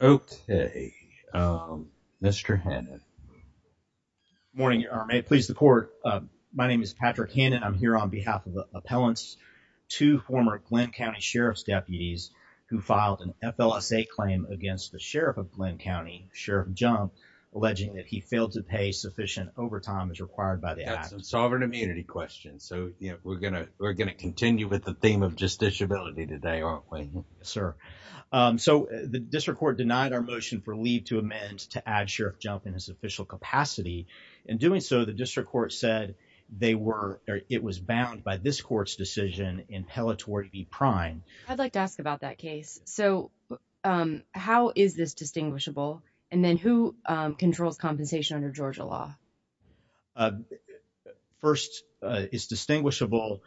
Okay, Mr. Hannon. Good morning, Your Honor. May it please the court, my name is Patrick Hannon. I'm here on behalf of the appellants, two former Glynn County Sheriff's deputies who filed an FLSA claim against the Sheriff of Glynn County, Sheriff Jump, alleging that he failed to pay sufficient overtime as required by the appellant. That's a sovereign immunity question, so we're going to continue with the theme of justiciability today, aren't we? Yes, sir. So the district court denied our motion for leave to amend to add Sheriff Jump in his official capacity. In doing so, the district court said it was bound by this court's decision in Pelletory v. Prime. I'd like to ask about that case. So how is this distinguishable? And then who controls compensation under Georgia law? First, it's distinguishable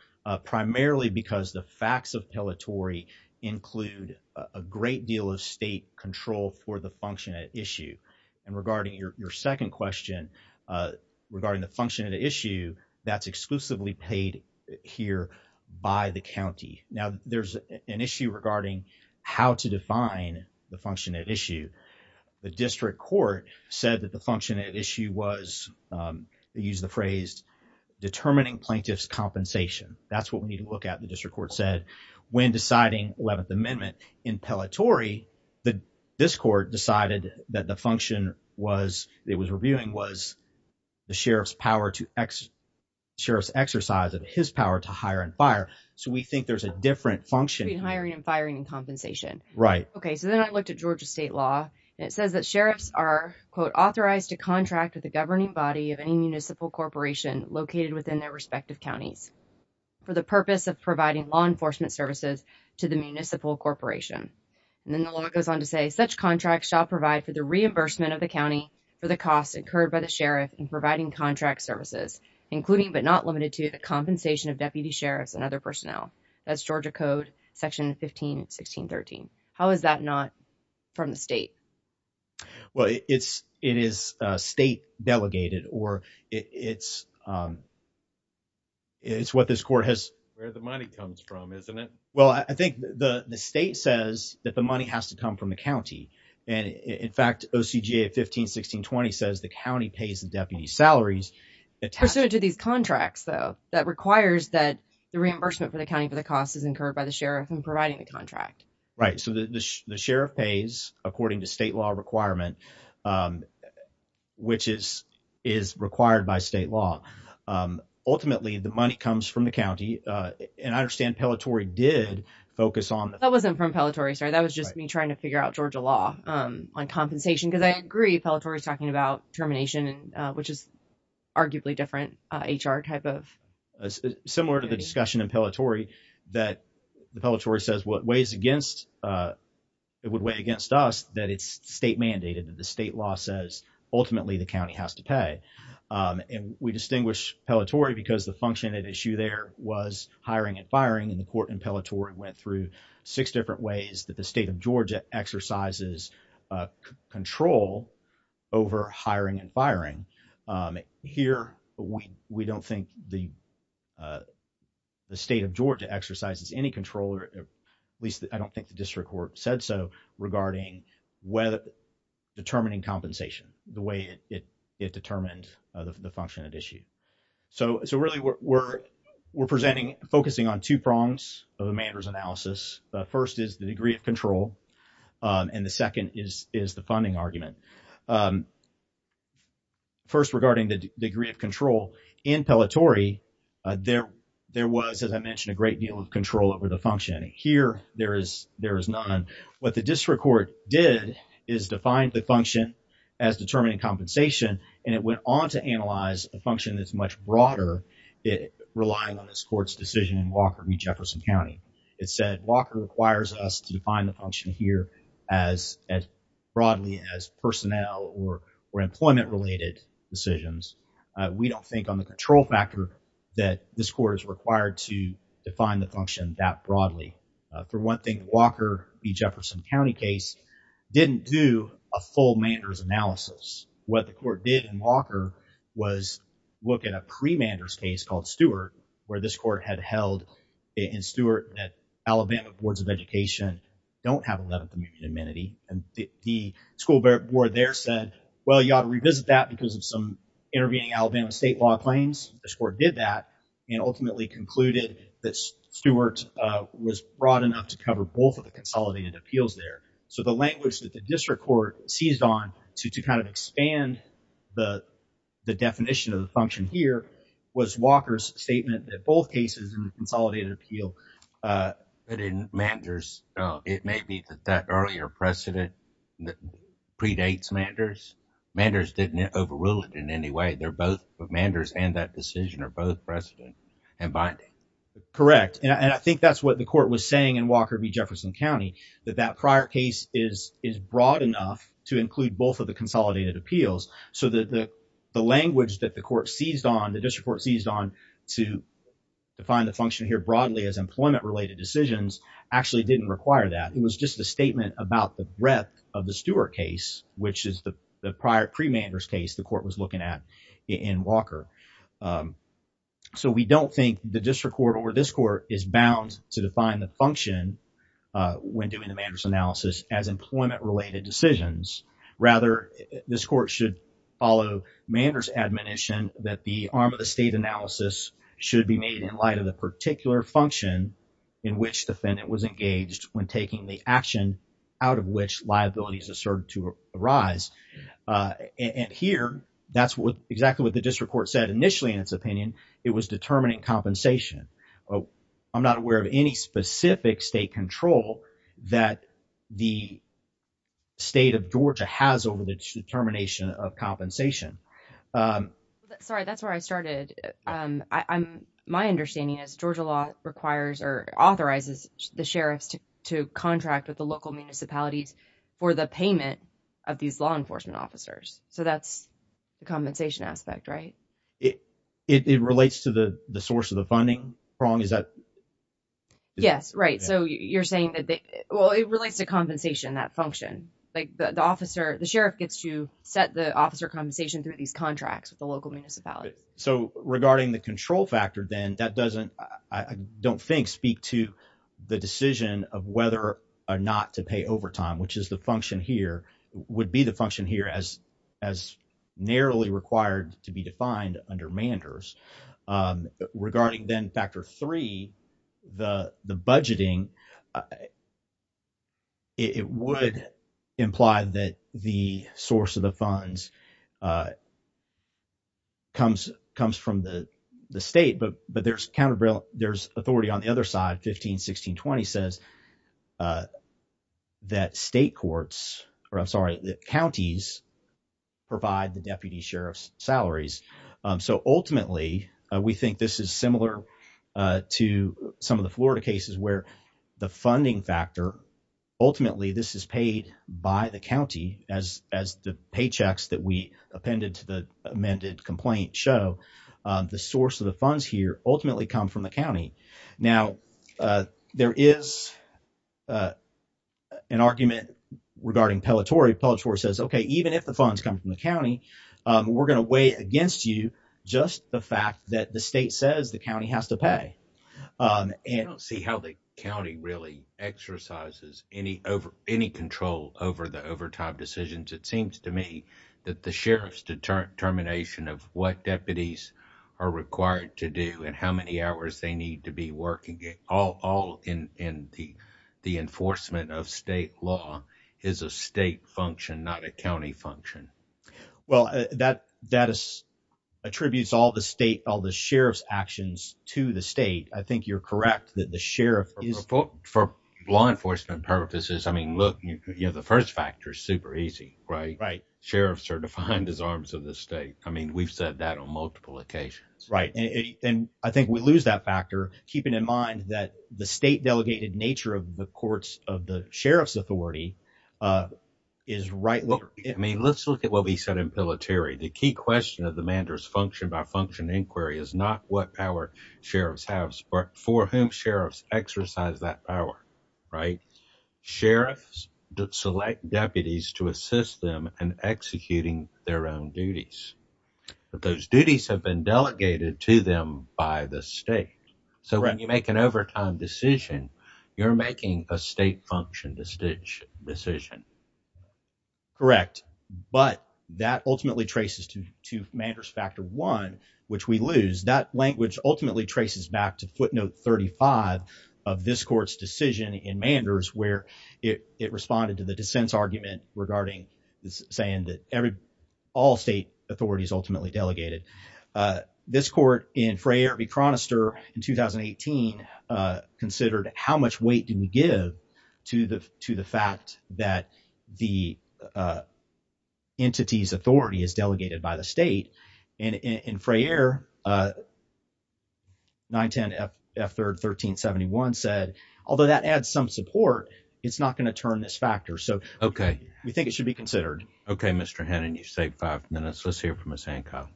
primarily because the facts of Pelletory include a great deal of state control for the function at issue. And regarding your second question, regarding the function at issue, that's exclusively paid here by the county. Now, there's an issue regarding how to define the function at issue. The district court said that the function at issue was, they used the phrase, determining plaintiff's compensation. That's what we need to look at, the district court said, when deciding 11th Amendment. In Pelletory, this court decided that the function it was reviewing was the Sheriff's exercise of his power to hire and fire. So we think there's a different function. Between hiring and firing and compensation. Right. Okay. So then I looked at Georgia state law and it says that sheriffs are, quote, authorized to contract with the governing body of any municipal corporation located within their respective counties for the purpose of providing law enforcement services to the municipal corporation. And then the law goes on to say, such contracts shall provide for the reimbursement of the county for the costs incurred by the sheriff in providing contract services, including but not limited to the compensation of deputy sheriffs and other personnel. That's Georgia code section 15, 16, 13. How is that not from the state? Well, it's, it is a state delegated or it's, it's what this court has, where the money comes from, isn't it? Well, I think the, the state says that the money has to come from the county. And in fact, OCGA at 15, 16, 20 says the county pays the deputy salaries. It's personal to these contracts though, that requires that the reimbursement for the county for the cost is incurred by the sheriff and providing the contract, right? So the, the, the sheriff pays according to state law requirement, um, which is, is required by state law. Um, ultimately the money comes from the county. Uh, and I understand Pellitori did focus on that wasn't from Pellitori. Sorry. That was just me trying to figure out Georgia law, um, on compensation. Cause I agree. Pellitori is talking about termination and, uh, which is arguably different, uh, HR type of similar to the discussion in Pellitori that the Pellitori says what weighs against, uh, it would weigh against us that it's state mandated that the state law says ultimately the county has to pay. Um, and we distinguish Pellitori because the function at issue there was hiring and firing and the court in Pellitori went through six different ways that the state of Georgia exercises, uh, control over hiring and firing. Um, here we, we don't think the, uh, the state of Georgia exercises any control or at least I don't think the district court said so regarding whether determining compensation the way it, it determined the function at issue. So, so really we're, we're, we're presenting, focusing on two prongs of Amanda's analysis. The first is the degree of control. Um, and the second is, is the funding argument. Um, first regarding the degree of control in Pellitori, uh, there, there was, as I mentioned, a great deal of control over the function here. There is, there is none. What the district court did is defined the function as determining compensation and it went on to analyze a function that's much broader. It relying on this court's decision in Walker v. Jefferson County. It said Walker requires us to define the function here as, as broadly as personnel or, or employment related decisions. Uh, we don't think on the control factor that this court is required to define the function that broadly. Uh, for one thing, Walker v. Jefferson County case didn't do a full Manders analysis. What the court had held in Stewart that Alabama boards of education don't have 11th amendment amenity and the school board there said, well, you ought to revisit that because of some intervening Alabama state law claims. This court did that and ultimately concluded that Stewart, uh, was broad enough to cover both of the consolidated appeals there. So the language that the district court seized on to, to kind of expand the, the definition of the function here was Walker's statement that both cases in the consolidated appeal, uh, it didn't Manders. Oh, it may be that that earlier precedent predates Manders. Manders didn't overrule it in any way. They're both of Manders and that decision are both precedent and binding. Correct. And I think that's what the court was saying in Walker v. Jefferson County, that that prior case is, is broad enough to include both of the consolidated appeals. So the, the, the language that the court seized on, the district court seized on to define the function here broadly as employment related decisions actually didn't require that. It was just a statement about the breadth of the Stewart case, which is the prior pre-Manders case the court was looking at in Walker. Um, so we don't think the district court or this court is bound to define the function, uh, when doing the Manders analysis as employment related decisions. Rather, this court should follow Manders admonition that the arm of the state analysis should be made in light of the particular function in which defendant was engaged when taking the action out of which liabilities asserted to arise. Uh, and here that's what exactly what the district court said initially in its opinion, it was state of Georgia has over the determination of compensation. Um, sorry, that's where I started. Um, I I'm, my understanding is Georgia law requires or authorizes the sheriffs to contract with the local municipalities for the payment of these law enforcement officers. So that's the compensation aspect, right? It, it, it relates to the, the source of the funding wrong. Is that, yes, right. So you're saying that they, well, it relates to compensation, that function, like the officer, the sheriff gets to set the officer compensation through these contracts with the local municipality. So regarding the control factor, then that doesn't, I don't think speak to the decision of whether or not to pay overtime, which is the function here would be the function here as, as narrowly required to be defined under Manders. Um, it would imply that the source of the funds, uh, comes, comes from the, the state, but, but there's counterbalance, there's authority on the other side, 15, 16, 20 says, uh, that state courts, or I'm sorry, the counties provide the deputy sheriff's salaries. Um, so ultimately, we think this is similar, uh, to some of the Florida cases where the funding factor, ultimately, this is paid by the County as, as the paychecks that we appended to the amended complaint show, uh, the source of the funds here ultimately come from the County. Now, uh, there is, uh, an argument regarding Pelletore. Pelletore says, okay, even if the funds come from the County, um, we're going to weigh against you just the fact that the state says the County has to pay. Um, and I don't see how the County really exercises any over any control over the overtime decisions. It seems to me that the sheriff's deterrent termination of what deputies are required to do and how many hours they need to be working all, all in, in the, the enforcement of state law is a state function, not a County function. Well, that, that is attributes all the sheriff's actions to the state. I think you're correct that the sheriff is for law enforcement purposes. I mean, look, you know, the first factor is super easy, right? Right. Sheriffs are defined as arms of the state. I mean, we've said that on multiple occasions, right? And I think we lose that factor, keeping in mind that the state delegated nature of the courts of the sheriff's authority, uh, is right. I mean, let's look at what we said in Pelletore. The key question of the Manders function by function inquiry is not what our sheriffs have for whom sheriffs exercise that power, right? Sheriffs did select deputies to assist them and executing their own duties, but those duties have been delegated to them by the state. So when you make an overtime decision, you're making a state function to stitch decision. Correct. But that ultimately traces to, to Manders factor one, which we lose that language ultimately traces back to footnote 35 of this court's decision in Manders, where it, it responded to the dissents argument regarding saying that every, all state authorities ultimately delegated. This court in Frayer v. Chronister in 2018, uh, considered how much weight do we give to the, to the fact that the, uh, entity's authority is delegated by the state and in Frayer, uh, 9 10 F F third 13 71 said, although that adds some support, it's not going to turn this factor. So, okay. We think it should be considered. Okay. Mr. Hannon, you saved five minutes. Let's hear from us. Hancock.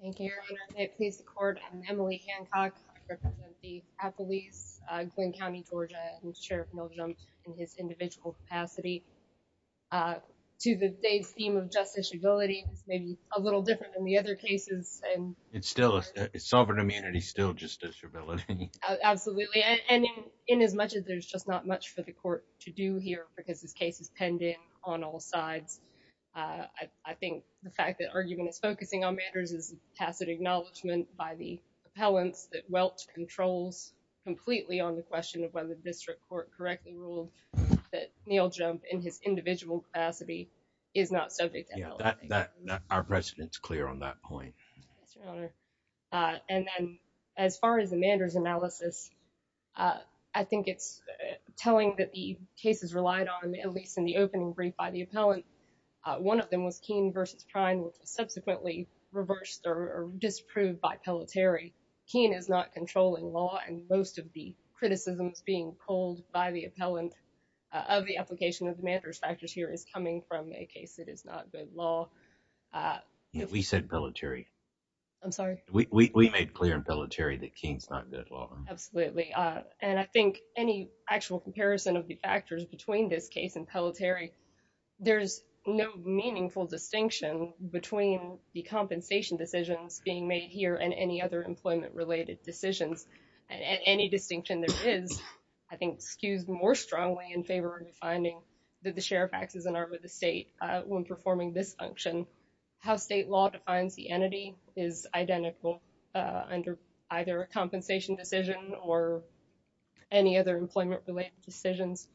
Thank you. Please. The court. I'm Emily Hancock, the police, uh, Glynn County, Georgia and Sheriff Milgram in his individual capacity, uh, to the day's theme of justice, ability, maybe a little different than the other cases. And it's still a sovereign immunity, still just disability. Absolutely. And in, in as much as there's just not much for the court to do here, because this case is pending on all sides. Uh, I, I think the fact that argument is focusing on matters is tacit acknowledgement by the appellants that welts controls completely on the question of whether the district court correctly ruled that Neil jump in his individual capacity is not subject to our president's clear on that point. Uh, and then as far as the managers analysis, uh, I think it's telling that the cases relied on, at least in the opening brief by the appellant. Uh, one of them was keen versus prime, which subsequently reversed or disproved by pellet Terry keen is not controlling law. And most of the criticisms being pulled by the appellant, uh, of the application of the factors here is coming from a case that is not good law. Uh, we said military, I'm sorry. We, we, we made clear in military that Keene's not good law. Absolutely. Uh, and I think any actual comparison of the factors between this case and pellet Terry, there's no meaningful distinction between the compensation decisions being made here and any other employment related decisions. And any distinction there is, I think skews more strongly in favor of the finding that the sheriff acts as an arm of the state. Uh, when performing this function, how state law defines the entity is identical, uh, under either a compensation decision or any other employment related decisions.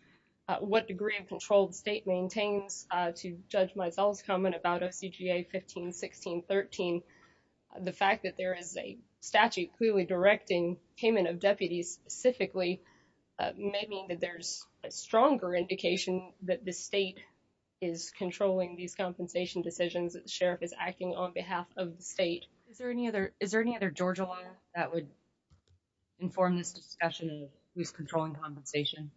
Uh, what degree of controlled state maintains, uh, to judge myself's comment about a CGA 15, 16, 13. The fact that there is a statute clearly directing payment of deputies specifically, uh, maybe that there's a stronger indication that the state is controlling these compensation decisions that the sheriff is acting on behalf of the state. Is there any other, is there any other Georgia law that would inform this discussion of who's controlling compensation?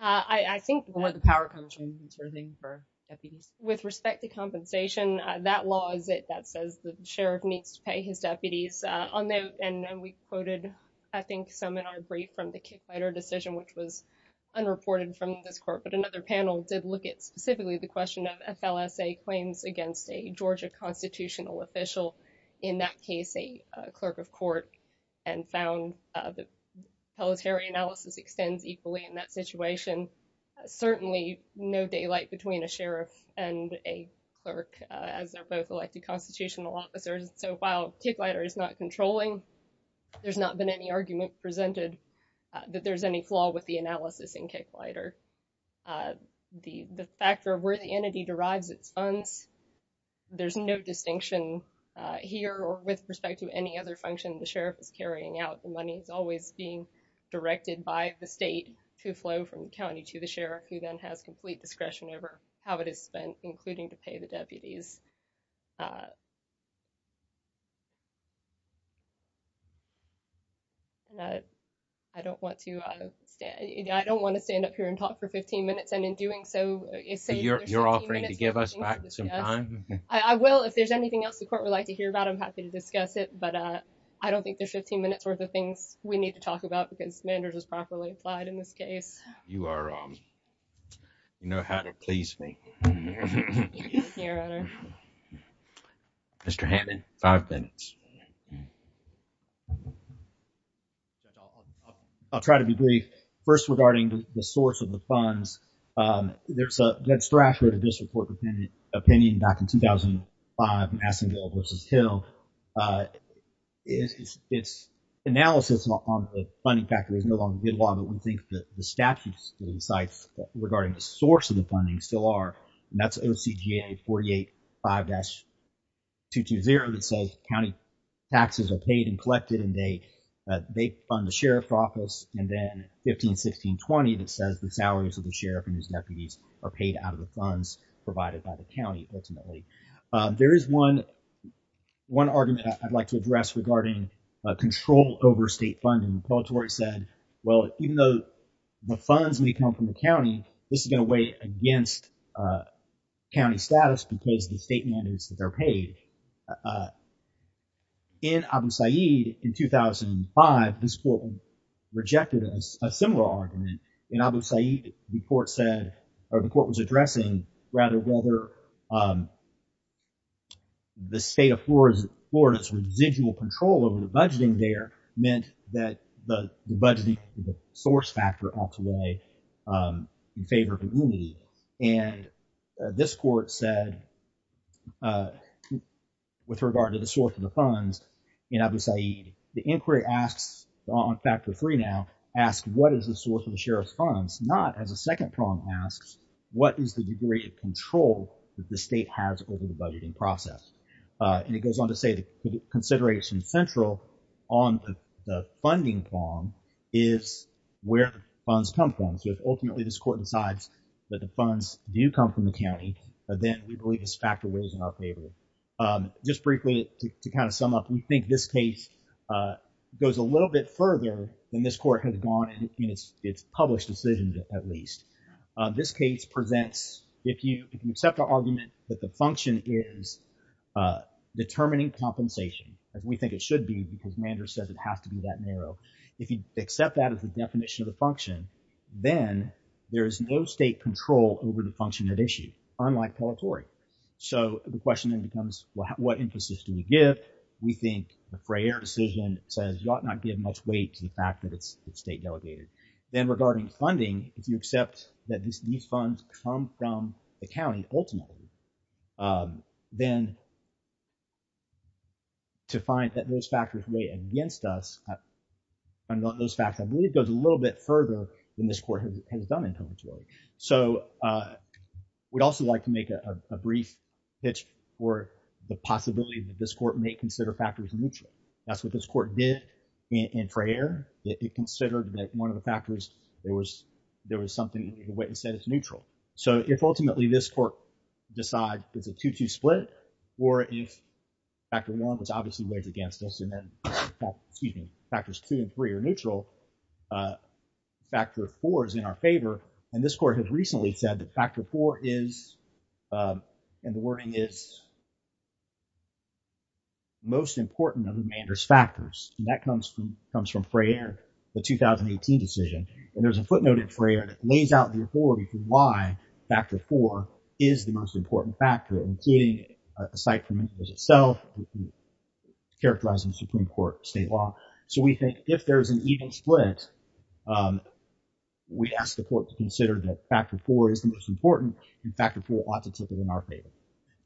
Uh, I, I think the power comes from serving for deputies with respect to compensation. Uh, that law is it that says the sheriff needs to pay his deputies, uh, on note. And then we quoted, I think, some in our brief from the kick fighter decision, which was unreported from this court. But another panel did look at specifically the question of FLSA claims against a Georgia constitutional official. In that case, a, a clerk of court and found, uh, the military analysis extends equally in that situation. Certainly no daylight between a sheriff and a clerk, uh, as they're both elected constitutional officers. So while kick lighter is not controlling, there's not been any argument presented that there's any flaw with the analysis and kick lighter. Uh, the, the factor of where the entity derives its funds, there's no distinction, uh, here or with respect to any other function. The sheriff is carrying out the money. It's always being directed by the state to flow from county to the sheriff who then has complete discretion over how it is spent, including to pay the deputies. Uh, and I, I don't want to, uh, stand, I don't want to stand up here and talk for 15 minutes and in doing so, you're offering to give us back some time. I will, if there's anything else the court would like to hear about, I'm happy to discuss it. But, uh, I don't think there's 15 minutes worth of things we need to talk about because manders is properly applied in this case. You are, um, you know how to please me. Mr. Hammond, five minutes. I'll try to be brief first regarding the source of the funds. Um, there's a good strategy to this report, dependent opinion back in 2005, Massingill versus Hill. Uh, it's analysis on the funding factor is no longer good law, but we think that the statutes and sites regarding the source of the funding still are, and that's OCGA 48, 5-220 that says county taxes are paid and collected and they, uh, they fund the sheriff's office. And then 15, 16, 20, that says the salaries of the sheriff and his deputies are paid out of the funds provided by the county. Ultimately, um, there is one, one argument I'd like to address regarding a control over state funding. The appellatory said, well, even though the funds may come from the county, this is going to weigh against, uh, county status because the state mandates that they're paid. Uh, in Abu Sayyid in 2005, this court rejected a similar argument in Abu Sayyid report said, or the court was addressing rather whether, um, the state of Florida's residual control over the budgeting there meant that the budgeting source factor offs away, um, in favor of immunity. And this court said, uh, with regard to the source of the funds in Abu Sayyid, the second prong asks, what is the degree of control that the state has over the budgeting process? Uh, and it goes on to say the consideration central on the funding prong is where funds come from. So if ultimately this court decides that the funds do come from the county, then we believe this factor weighs in our favor. Um, just briefly to kind of sum up, we think this case, uh, goes a little bit further than this court has gone in its, in its published decisions at least. Uh, this case presents, if you, if you accept our argument that the function is, uh, determining compensation as we think it should be, because Mander says it has to be that narrow. If you accept that as the definition of the function, then there is no state control over the function at issue, unlike Pelletori. So the question then becomes, well, what emphasis do we give? We think the Frayer decision says you ought not give much weight to the fact that it's the state delegated. Then regarding funding, if you accept that this, these funds come from the county ultimately, um, then to find that those factors weigh against us, and those facts, I believe it goes a little bit further than this court has done in Pelletori. So, uh, we'd also like to make a, a brief pitch for the possibility that this court may consider factors neutral. That's what this court did in, in Frayer. It considered that one of the factors, there was, there was something that the witness said is neutral. So if ultimately this court decides it's a two-two split, or if factor one, which obviously weighs against us, and then, excuse me, factors two and three are neutral, uh, factor four is in our favor. And this court has recently said that factor four is, um, and the wording is most important of the remainder's factors. And that comes from, comes from Frayer, the 2018 decision. And there's a footnote in Frayer that lays out the authority for why factor four is the most important factor, including, uh, aside from it as itself, characterizing Supreme Court state law. So we think if there's an even split, um, we'd ask the court to consider that factor four is the most important and factor four ought to take it in our favor.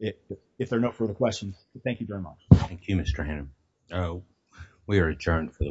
If, if there are no further questions, thank you very much. Thank you, Mr. Hannum. We are adjourned for the week.